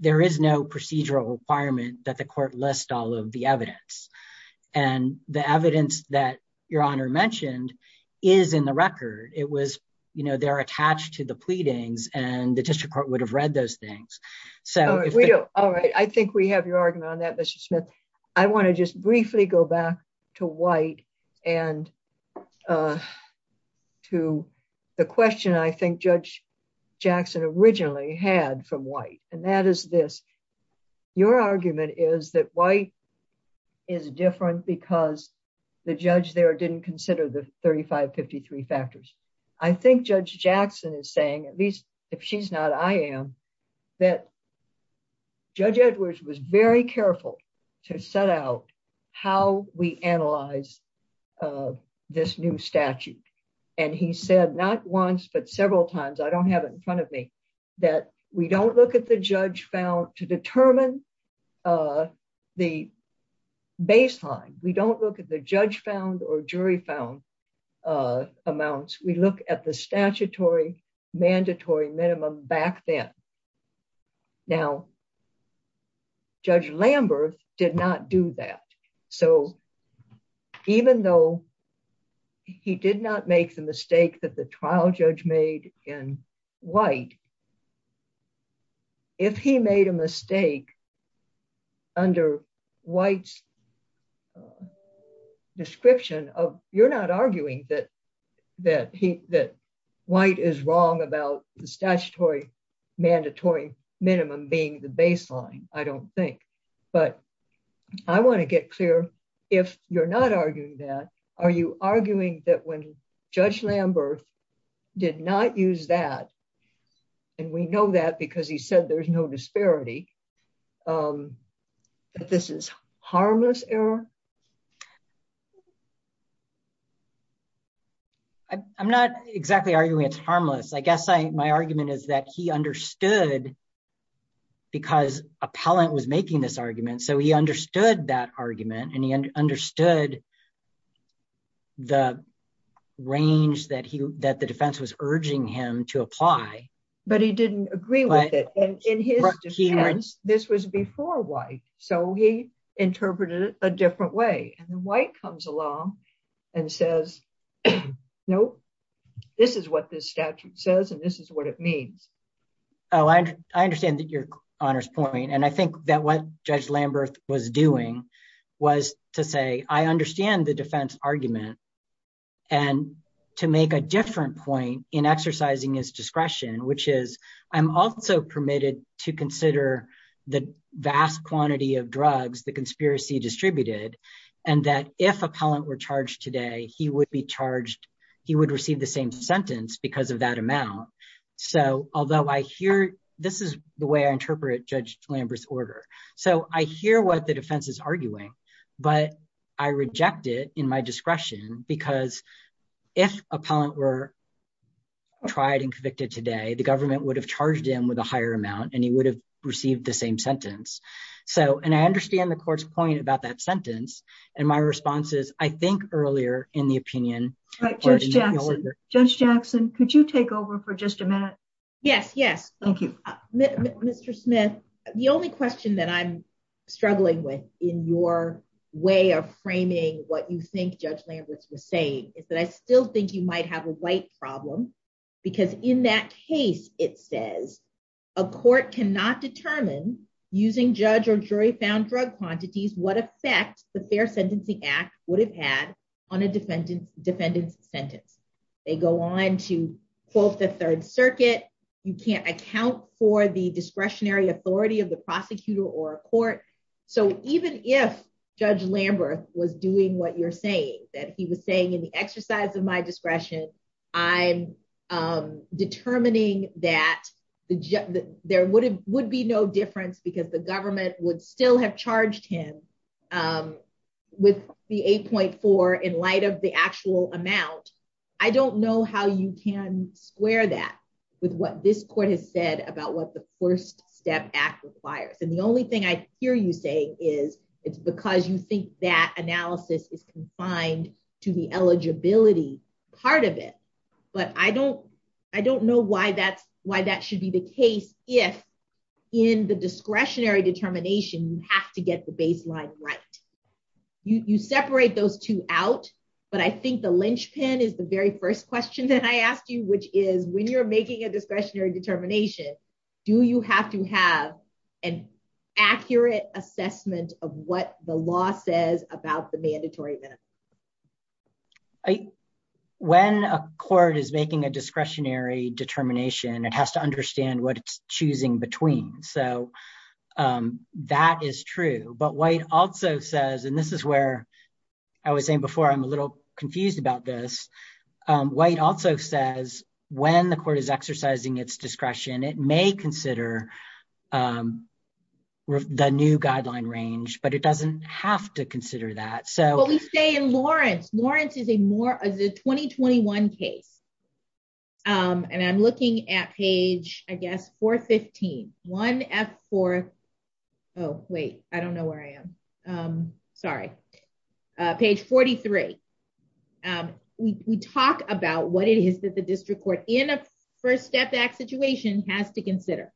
there is no procedural requirement that the court list all of the evidence and the evidence that your honor mentioned is in the record, it was, you know, they're attached to the to the question I think Judge Jackson originally had from white, and that is this, your argument is that white is different because the judge there didn't consider the 3553 factors. I think Judge Jackson is saying at least if she's not I am that Judge Edwards was very careful to set out how we analyze this new statute, and he said not once but several times I don't have it in front of me that we don't look at the judge found to look at the statutory mandatory minimum back then. Now, Judge Lambert did not do that. So, even though he did not make the mistake that the trial judge made in white. Under whites description of, you're not arguing that that he that white is wrong about the statutory mandatory minimum being the baseline, I don't think, but I want to get clear. If you're not arguing that. Are you arguing that when Judge Lambert did not use that. And we know that because he said there's no disparity. This is harmless error. I'm not exactly arguing it's harmless I guess I my argument is that he understood, because appellant was making this argument so he understood that argument and he understood the range that he that the defense was urging him to apply, but he didn't agree with it. And in his defense, this was before white, so he interpreted it a different way and the white comes along and says, Nope. This is what this statute says and this is what it means. Oh, I understand that your honors point and I think that what Judge Lambert was doing was to say I understand the defense argument, and to make a different point in exercising his discretion, which is, I'm also permitted to consider the vast quantity of drugs the this is the way I interpret Judge Lambert's order. So, I hear what the defense is arguing, but I reject it in my discretion, because if appellant were tried and convicted today the government would have charged him with a higher amount and he would have received the same sentence. So, and I understand the court's point about that sentence, and my responses, I think, earlier in the opinion. Judge Jackson, could you take over for just a minute. Yes, yes. Thank you, Mr. Smith. The only question that I'm struggling with in your way of framing what you think Judge Lambert's was saying is that I still think you might have a white problem, because in that case, it says, a court cannot determine using judge or jury found drug quantities what effect, the Fair Sentencing Act would have had on a defendant's sentence. They go on to quote the Third Circuit, you can't account for the discretionary authority of the prosecutor or court. So even if Judge Lambert was doing what you're saying that he was saying in the exercise of my discretion. I'm determining that there would be no difference because the government would still have charged him with the 8.4 in light of the actual amount. I don't know how you can square that with what this court has said about what the First Step Act requires and the only thing I hear you say is, it's because you think that analysis is confined to the eligibility part of it. But I don't, I don't know why that's why that should be the case, if in the discretionary determination, you have to get the baseline right. You separate those two out. But I think the linchpin is the very first question that I asked you, which is when you're making a discretionary determination. Do you have to have an accurate assessment of what the law says about the mandatory minimum? When a court is making a discretionary determination, it has to understand what it's choosing between. So that is true. But White also says, and this is where I was saying before, I'm a little confused about this. White also says when the court is exercising its discretion, it may consider the new guideline range, but it doesn't have to consider that. What we say in Lawrence, Lawrence is a 2021 case. And I'm looking at page, I guess, 415, 1F4. Oh, wait, I don't know where I am. Sorry. Page 43. We talk about what it is that the district court in a First Step Act situation has to consider.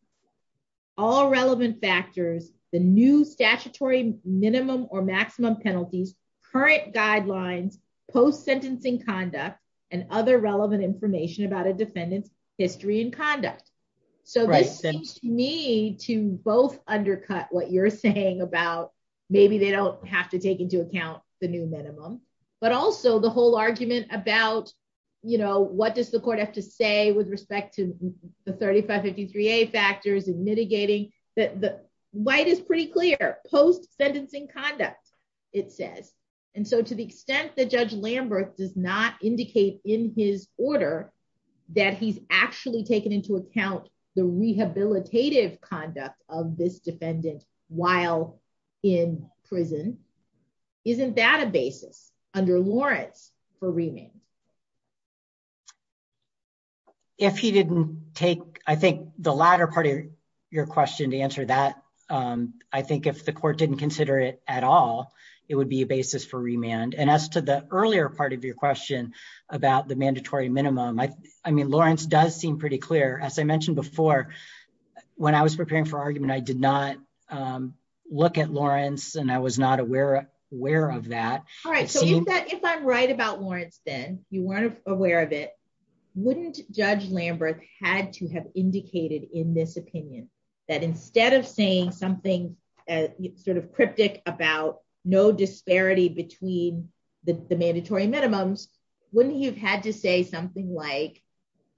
All relevant factors, the new statutory minimum or maximum penalties, current guidelines, post sentencing conduct, and other relevant information about a defendant's history and conduct. So this seems to me to both undercut what you're saying about maybe they don't have to take into account the new minimum, but also the whole argument about, you know, what does the court have to say with respect to the 3553A factors and mitigating that White is pretty clear. Post sentencing conduct, it says. And so to the extent that Judge Lambert does not indicate in his order that he's actually taken into account the rehabilitative conduct of this defendant while in prison. Isn't that a basis under Lawrence for remand? If he didn't take, I think, the latter part of your question to answer that, I think if the court didn't consider it at all, it would be a basis for remand. And as to the earlier part of your question about the mandatory minimum, I mean, Lawrence does seem pretty clear. As I mentioned before, when I was preparing for argument, I did not look at Lawrence and I was not aware of that. All right, so if I'm right about Lawrence then, you weren't aware of it, wouldn't Judge Lambert had to have indicated in this opinion that instead of saying something sort of cryptic about no disparity between the mandatory minimums, wouldn't he have had to say something like,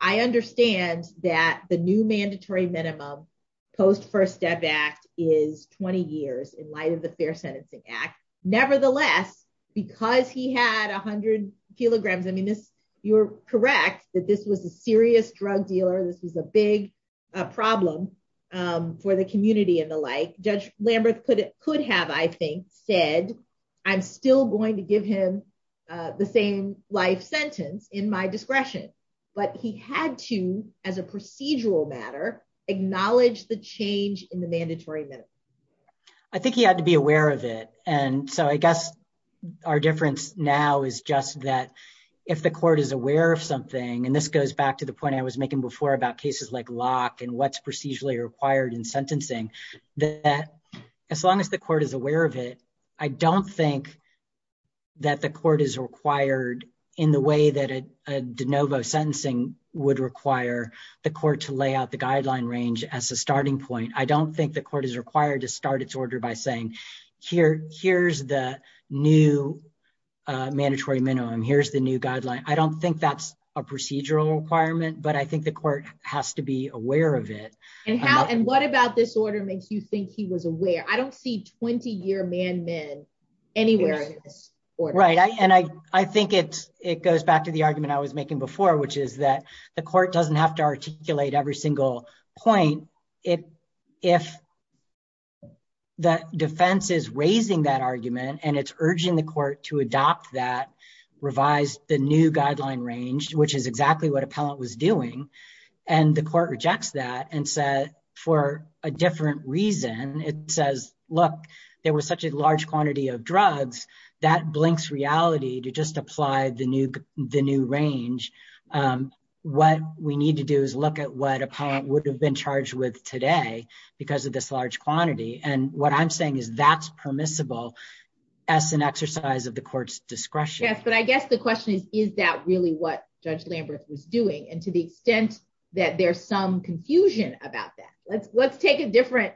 I understand that the new mandatory minimum post First Step Act is 20 years in light of the Fair Sentencing Act. Nevertheless, because he had 100 kilograms, I mean, you're correct that this was a serious drug dealer. This was a big problem for the community and the like. Judge Lambert could have, I think, said I'm still going to give him the same life sentence in my discretion. But he had to, as a procedural matter, acknowledge the change in the mandatory minimum. I think he had to be aware of it. And so I guess our difference now is just that if the court is aware of something, and this goes back to the point I was making before about cases like Locke and what's procedurally required in sentencing, that as long as the court is aware of it, I don't think that the court is required in the way that a de novo sentencing would require the court to lay out the guideline range as a starting point. I don't think the court is required to start its order by saying, here's the new mandatory minimum, here's the new guideline. I don't think that's a procedural requirement, but I think the court has to be aware of it. And what about this order makes you think he was aware? I don't see 20-year man-men anywhere in this order. Right. And I think it goes back to the argument I was making before, which is that the court doesn't have to articulate every single point if the defense is raising that argument and it's urging the court to adopt that revised the new guideline range, which is exactly what appellant was doing. And the court rejects that and said, for a different reason, it says, look, there was such a large quantity of drugs that blinks reality to just apply the new range. What we need to do is look at what appellant would have been charged with today because of this large quantity. And what I'm saying is that's permissible as an exercise of the court's discretion. Yes, but I guess the question is, is that really what Judge Lambert was doing? And to the extent that there's some confusion about that, let's take a different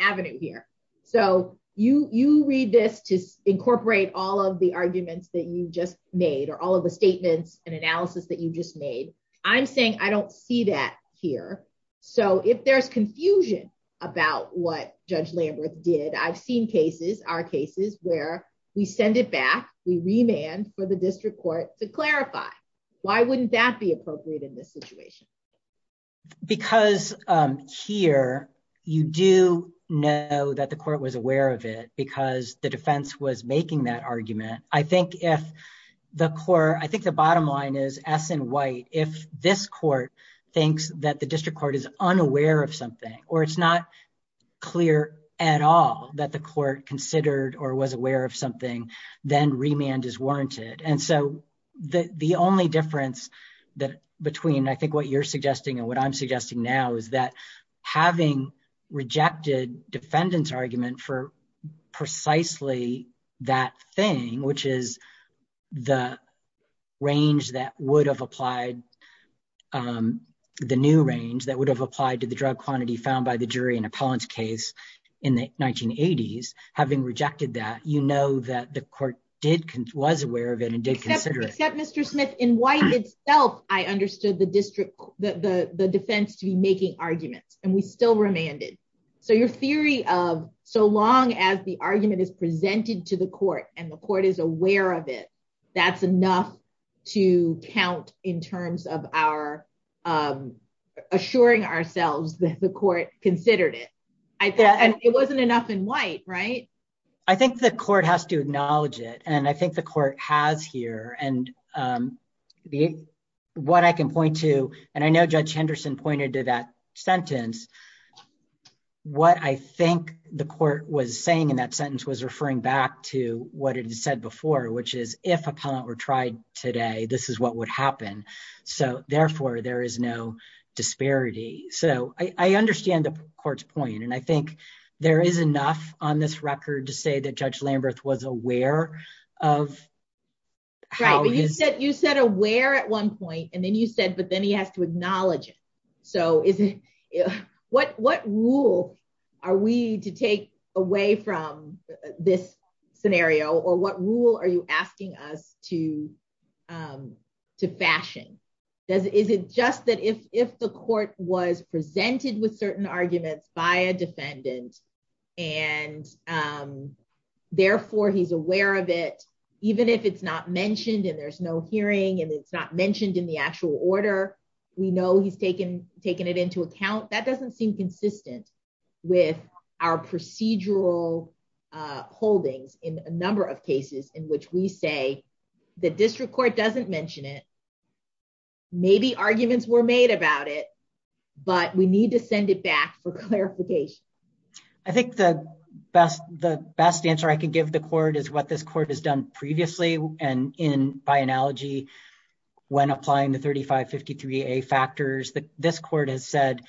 avenue here. So you read this to incorporate all of the arguments that you just made or all of the statements and analysis that you just made. I'm saying I don't see that here. So if there's confusion about what Judge Lambert did, I've seen cases, our cases where we send it back, we remand for the district court to clarify. Why wouldn't that be appropriate in this situation? Because here you do know that the court was aware of it because the defense was making that argument. I think if the court I think the bottom line is as in white, if this court thinks that the district court is unaware of something or it's not clear at all that the court considered or was aware of something, then remand is warranted. And so the only difference between I think what you're suggesting and what I'm suggesting now is that having rejected defendant's argument for precisely that thing, which is the range that would have applied, the new range that would have applied to the drug quantity found by the jury in appellant's case in the 1980s. Having rejected that, you know that the court was aware of it and did consider it. Except Mr. Smith, in white itself I understood the defense to be making arguments and we still remanded. So your theory of so long as the argument is presented to the court and the court is aware of it, that's enough to count in terms of our assuring ourselves that the court considered it. And it wasn't enough in white, right? I think the court has to acknowledge it and I think the court has here and what I can point to, and I know Judge Henderson pointed to that sentence. What I think the court was saying in that sentence was referring back to what it had said before, which is if appellant were tried today, this is what would happen. So therefore, there is no disparity. So I understand the court's point and I think there is enough on this record to say that Judge Lamberth was aware of how his- Right, but you said aware at one point and then you said but then he has to acknowledge it. So what rule are we to take away from this scenario or what rule are you asking us to fashion? Is it just that if the court was presented with certain arguments by a defendant and therefore he's aware of it, even if it's not mentioned and there's no hearing and it's not mentioned in the actual order, we know he's taken it into account, that doesn't seem consistent with our procedural holdings in a number of cases in which we say the district court doesn't mention it, maybe arguments were made about it, but we need to send it back for clarification. I think the best answer I can give the court is what this court has done previously and by analogy, when applying the 3553A factors, this court has said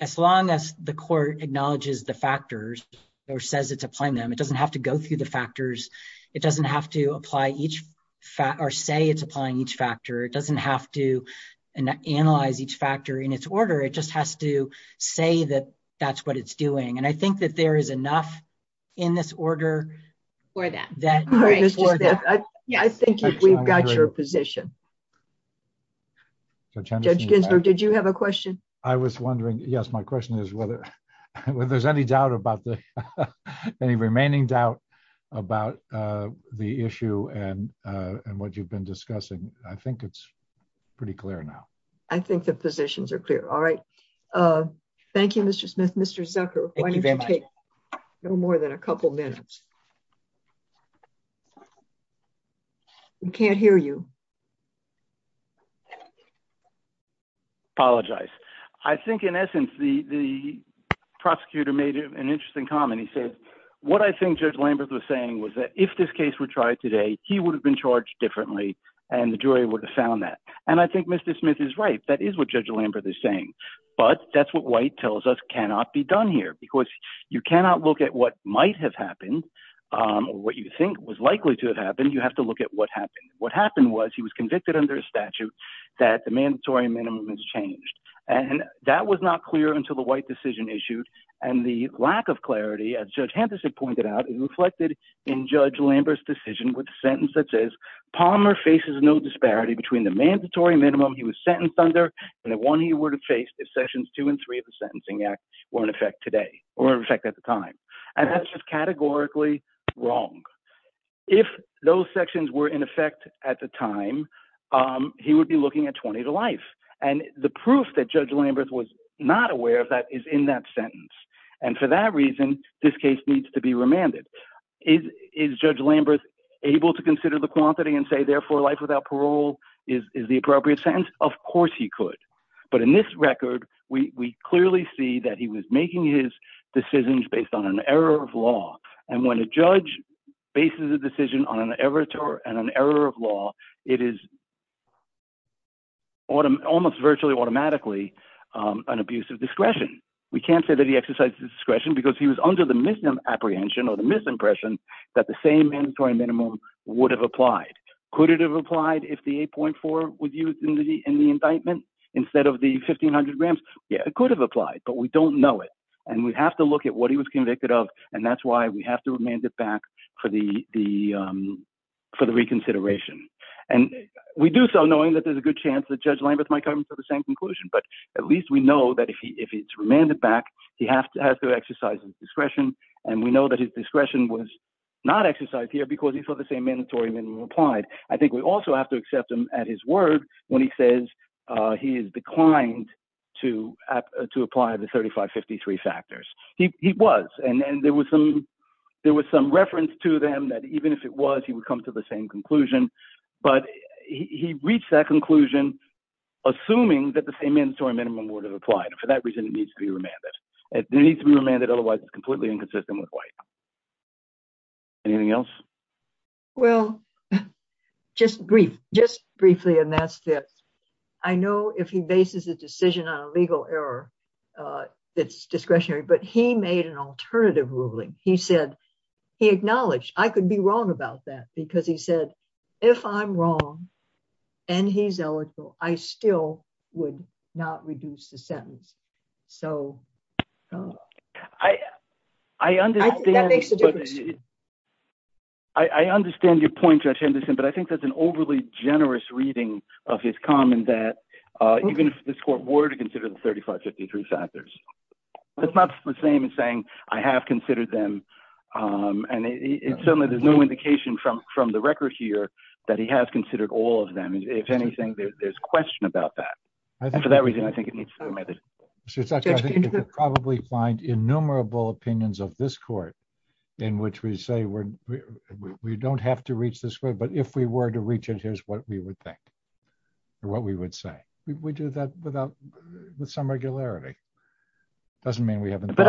as long as the court acknowledges the factors or says it's applying them, it doesn't have to go through the factors. It doesn't have to say it's applying each factor. It doesn't have to analyze each factor in its order. It just has to say that that's what it's doing. And I think that there is enough in this order- For that. I think we've got your position. Judge Ginsburg, did you have a question? I was wondering, yes, my question is whether there's any remaining doubt about the issue and what you've been discussing. I think it's pretty clear now. I think the positions are clear. All right. Thank you, Mr. Smith. Mr. Zucker, why don't you take no more than a couple minutes. We can't hear you. Apologize. I think in essence, the prosecutor made an interesting comment. He said, what I think Judge Lambert was saying was that if this case were tried today, he would have been charged differently and the jury would have found that. And I think Mr. Smith is right. That is what Judge Lambert is saying. But that's what White tells us cannot be done here because you cannot look at what might have happened, what you think was likely to have happened. You have to look at what happened. What happened was he was convicted under a statute that the mandatory minimum has changed. And that was not clear until the White decision issued. And the lack of clarity, as Judge Hamperson pointed out, is reflected in Judge Lambert's decision with the sentence that says Palmer faces no disparity between the mandatory minimum he was sentenced under and the one he would have faced if sessions two and three of the Sentencing Act were in effect today or in effect at the time. And that's just categorically wrong. If those sections were in effect at the time, he would be looking at 20 to life. And the proof that Judge Lambert was not aware of that is in that sentence. And for that reason, this case needs to be remanded. Is Judge Lambert able to consider the quantity and say, therefore, life without parole is the appropriate sentence? Of course he could. But in this record, we clearly see that he was making his decisions based on an error of law. And when a judge bases a decision on an error of law, it is almost virtually automatically an abuse of discretion. We can't say that he exercised discretion because he was under the misapprehension or the misimpression that the same mandatory minimum would have applied. Could it have applied if the 8.4 was used in the indictment instead of the 1500 grams? Yeah, it could have applied, but we don't know it. And we have to look at what he was convicted of. And that's why we have to remand it back for the reconsideration. And we do so knowing that there's a good chance that Judge Lambert might come to the same conclusion. But at least we know that if it's remanded back, he has to exercise his discretion. And we know that his discretion was not exercised here because he saw the same mandatory minimum applied. I think we also have to accept him at his word when he says he has declined to apply the 3553 factors. He was. And there was some reference to them that even if it was, he would come to the same conclusion. But he reached that conclusion assuming that the same mandatory minimum would have applied. And for that reason, it needs to be remanded. It needs to be remanded, otherwise it's completely inconsistent with white. Anything else? Well, just brief, just briefly, and that's this. I know if he bases a decision on a legal error, it's discretionary, but he made an alternative ruling. He said, he acknowledged, I could be wrong about that because he said, if I'm wrong, and he's eligible, I still would not reduce the sentence. I understand your point, Judge Henderson, but I think that's an overly generous reading of his comment that even if this court were to consider the 3553 factors, it's not the same as saying, I have considered them, and certainly there's no indication from the record here that he has considered all of them. And if anything, there's question about that. And for that reason, I think it needs to be remanded. I think you could probably find innumerable opinions of this court in which we say we don't have to reach this way, but if we were to reach it, here's what we would think or what we would say. We do that without, with some regularity. Doesn't mean we haven't done it. And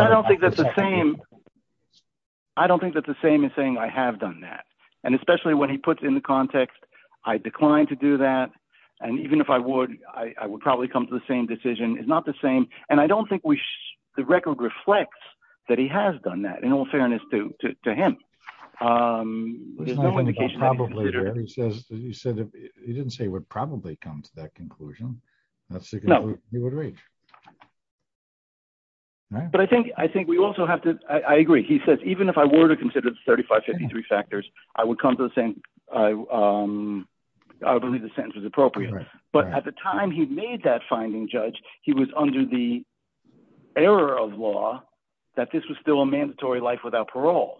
even if I would, I would probably come to the same decision. It's not the same. And I don't think we, the record reflects that he has done that, in all fairness to him. There's no indication that he did. He didn't say he would probably come to that conclusion. No. He would reach. But I think, I think we also have to, I agree, he says, even if I were to consider the 3553 factors, I would come to the same. I believe the sentence is appropriate, but at the time he made that finding judge, he was under the error of law that this was still a mandatory life without parole.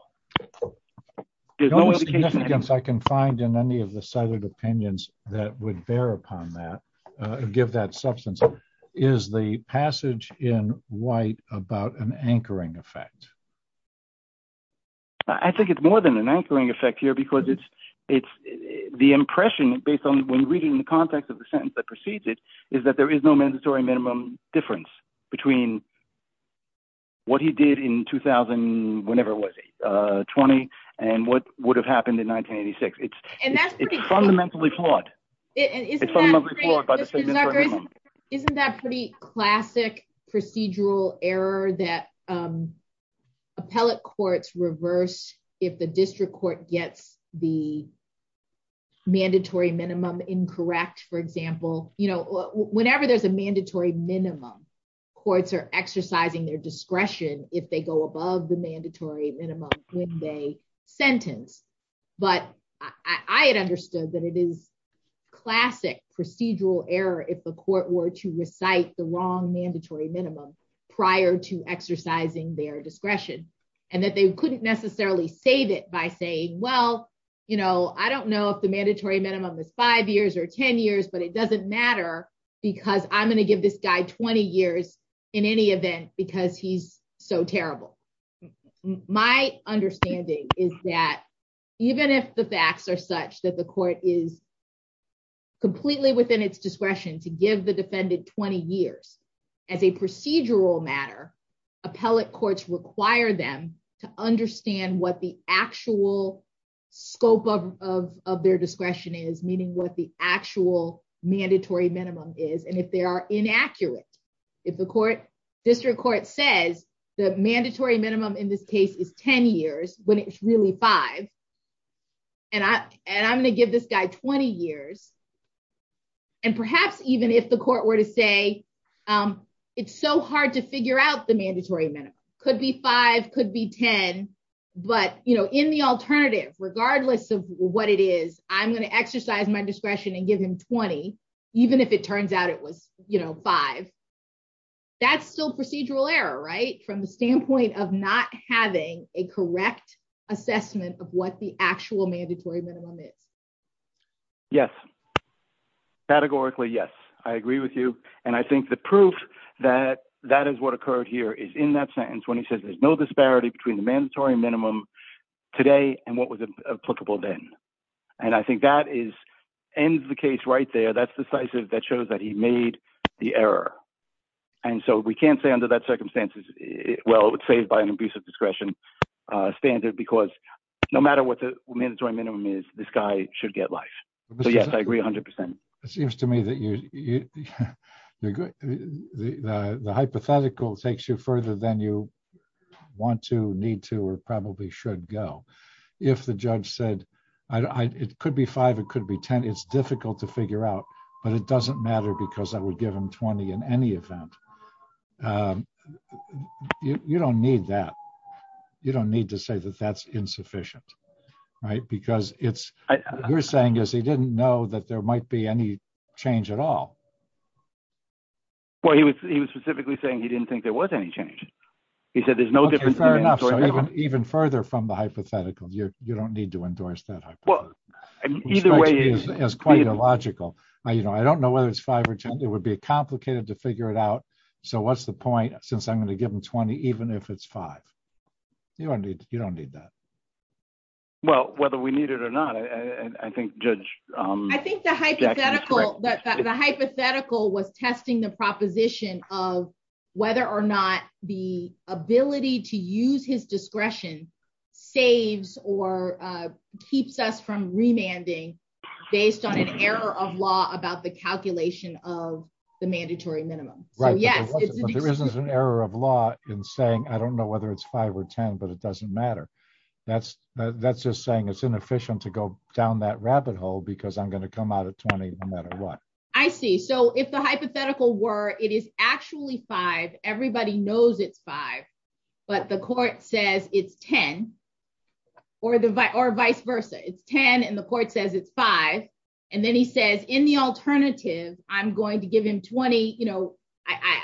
I can find in any of the sided opinions that would bear upon that give that substance is the passage in white about an anchoring effect. I think it's more than an anchoring effect here because it's, it's the impression based on when reading the context of the sentence that precedes it is that there is no mandatory minimum difference between what he did in 2000, whenever it was 20, and what would have happened in 1986 it's fundamentally flawed. It is. Isn't that pretty classic procedural error that appellate courts reverse. If the district court gets the mandatory minimum incorrect for example, you know, whenever there's a mandatory minimum courts are exercising their discretion, if they go above the mandatory minimum, when they sentence, but I had understood that it is classic procedural error if the court were to recite the wrong mandatory minimum prior to exercising their discretion, and that they couldn't necessarily save it by saying, well, you know, I don't know if the mandatory minimum is five years or 10 years but it doesn't matter, because I'm going to give this guy 20 years. In any event, because he's so terrible. My understanding is that even if the facts are such that the court is completely within its discretion to give the defendant 20 years as a procedural matter appellate courts require them to understand what the actual scope of their discretion is meaning what the actual mandatory minimum is and if they are inaccurate. If the court district court says the mandatory minimum in this case is 10 years, when it's really five. And I, and I'm going to give this guy 20 years. And perhaps even if the court were to say, it's so hard to figure out the mandatory minimum could be five could be 10. But, you know, in the alternative, regardless of what it is, I'm going to exercise my discretion and give him 20, even if it turns out it was, you know, five. That's still procedural error right from the standpoint of not having a correct assessment of what the actual mandatory minimum is. Yes. Categorically Yes, I agree with you. And I think the proof that that is what occurred here is in that sentence when he says there's no disparity between the mandatory minimum today, and what was applicable then. And I think that is end the case right there that's decisive that shows that he made the error. And so we can't say under that circumstances. Well, it's saved by an abusive discretion standard because no matter what the mandatory minimum is this guy should get life. Yes, I agree 100% seems to me that you. The hypothetical takes you further than you want to need to or probably should go. If the judge said, I could be five it could be 10 it's difficult to figure out, but it doesn't matter because I would give him 20 in any event. You don't need that. You don't need to say that that's insufficient. Right, because it's, you're saying is he didn't know that there might be any change at all. Well, he was, he was specifically saying he didn't think there was any change. He said there's no difference. Even further from the hypothetical you don't need to endorse that. Either way is quite illogical. I you know I don't know whether it's five or 10, it would be complicated to figure it out. So what's the point, since I'm going to give them 20 even if it's five. You don't need that. Well, whether we need it or not, I think, Judge, I think the hypothetical that the hypothetical was testing the proposition of whether or not the ability to use his discretion saves or keeps us from remanding based on an error of law about the calculation of the mandatory minimum. Right, yeah. There isn't an error of law in saying I don't know whether it's five or 10 but it doesn't matter. That's, that's just saying it's inefficient to go down that rabbit hole because I'm going to come out at 20, no matter what. I see. So if the hypothetical were it is actually five, everybody knows it's five, but the court says it's 10 or the vice or vice versa, it's 10 and the court says it's five. And then he says in the alternative, I'm going to give him 20, you know,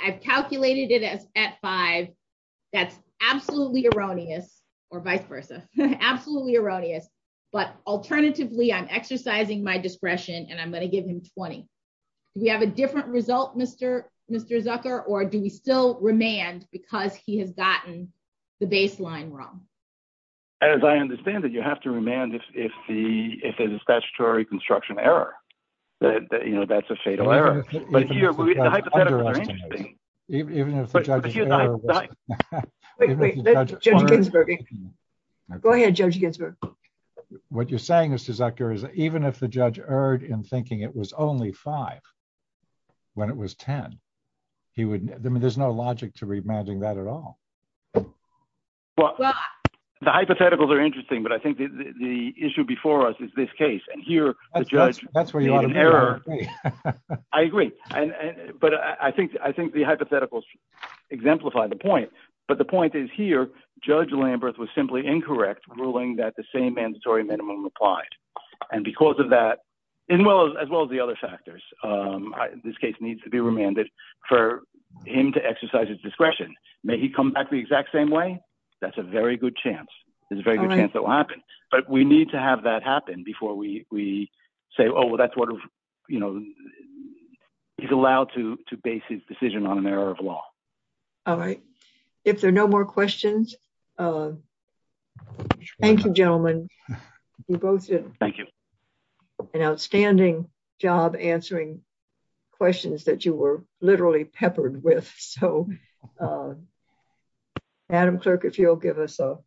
I've calculated it as at five. That's absolutely erroneous, or vice versa, absolutely erroneous, but alternatively I'm exercising my discretion and I'm going to give him 20. We have a different result Mr. Mr Zucker or do we still remand because he has gotten the baseline wrong. As I understand that you have to remand if the statutory construction error that you know that's a fatal error. Even if you're not. Go ahead, Judge Ginsburg. What you're saying is to Zucker is even if the judge erred in thinking it was only five. When it was 10. He would, there's no logic to remanding that at all. Well, the hypotheticals are interesting but I think the issue before us is this case and here. That's where you are. I agree. And, but I think I think the hypotheticals exemplify the point, but the point is here, Judge Lambert was simply incorrect ruling that the same mandatory minimum applied. And because of that, as well as well as the other factors. This case needs to be remanded for him to exercise his discretion, may he come back the exact same way. That's a very good chance. But we need to have that happen before we say oh well that's what, you know, he's allowed to base his decision on an error of law. All right. If there are no more questions. Thank you gentlemen. Thank you. An outstanding job answering questions that you were literally peppered with. So, Adam clerk if you'll give us a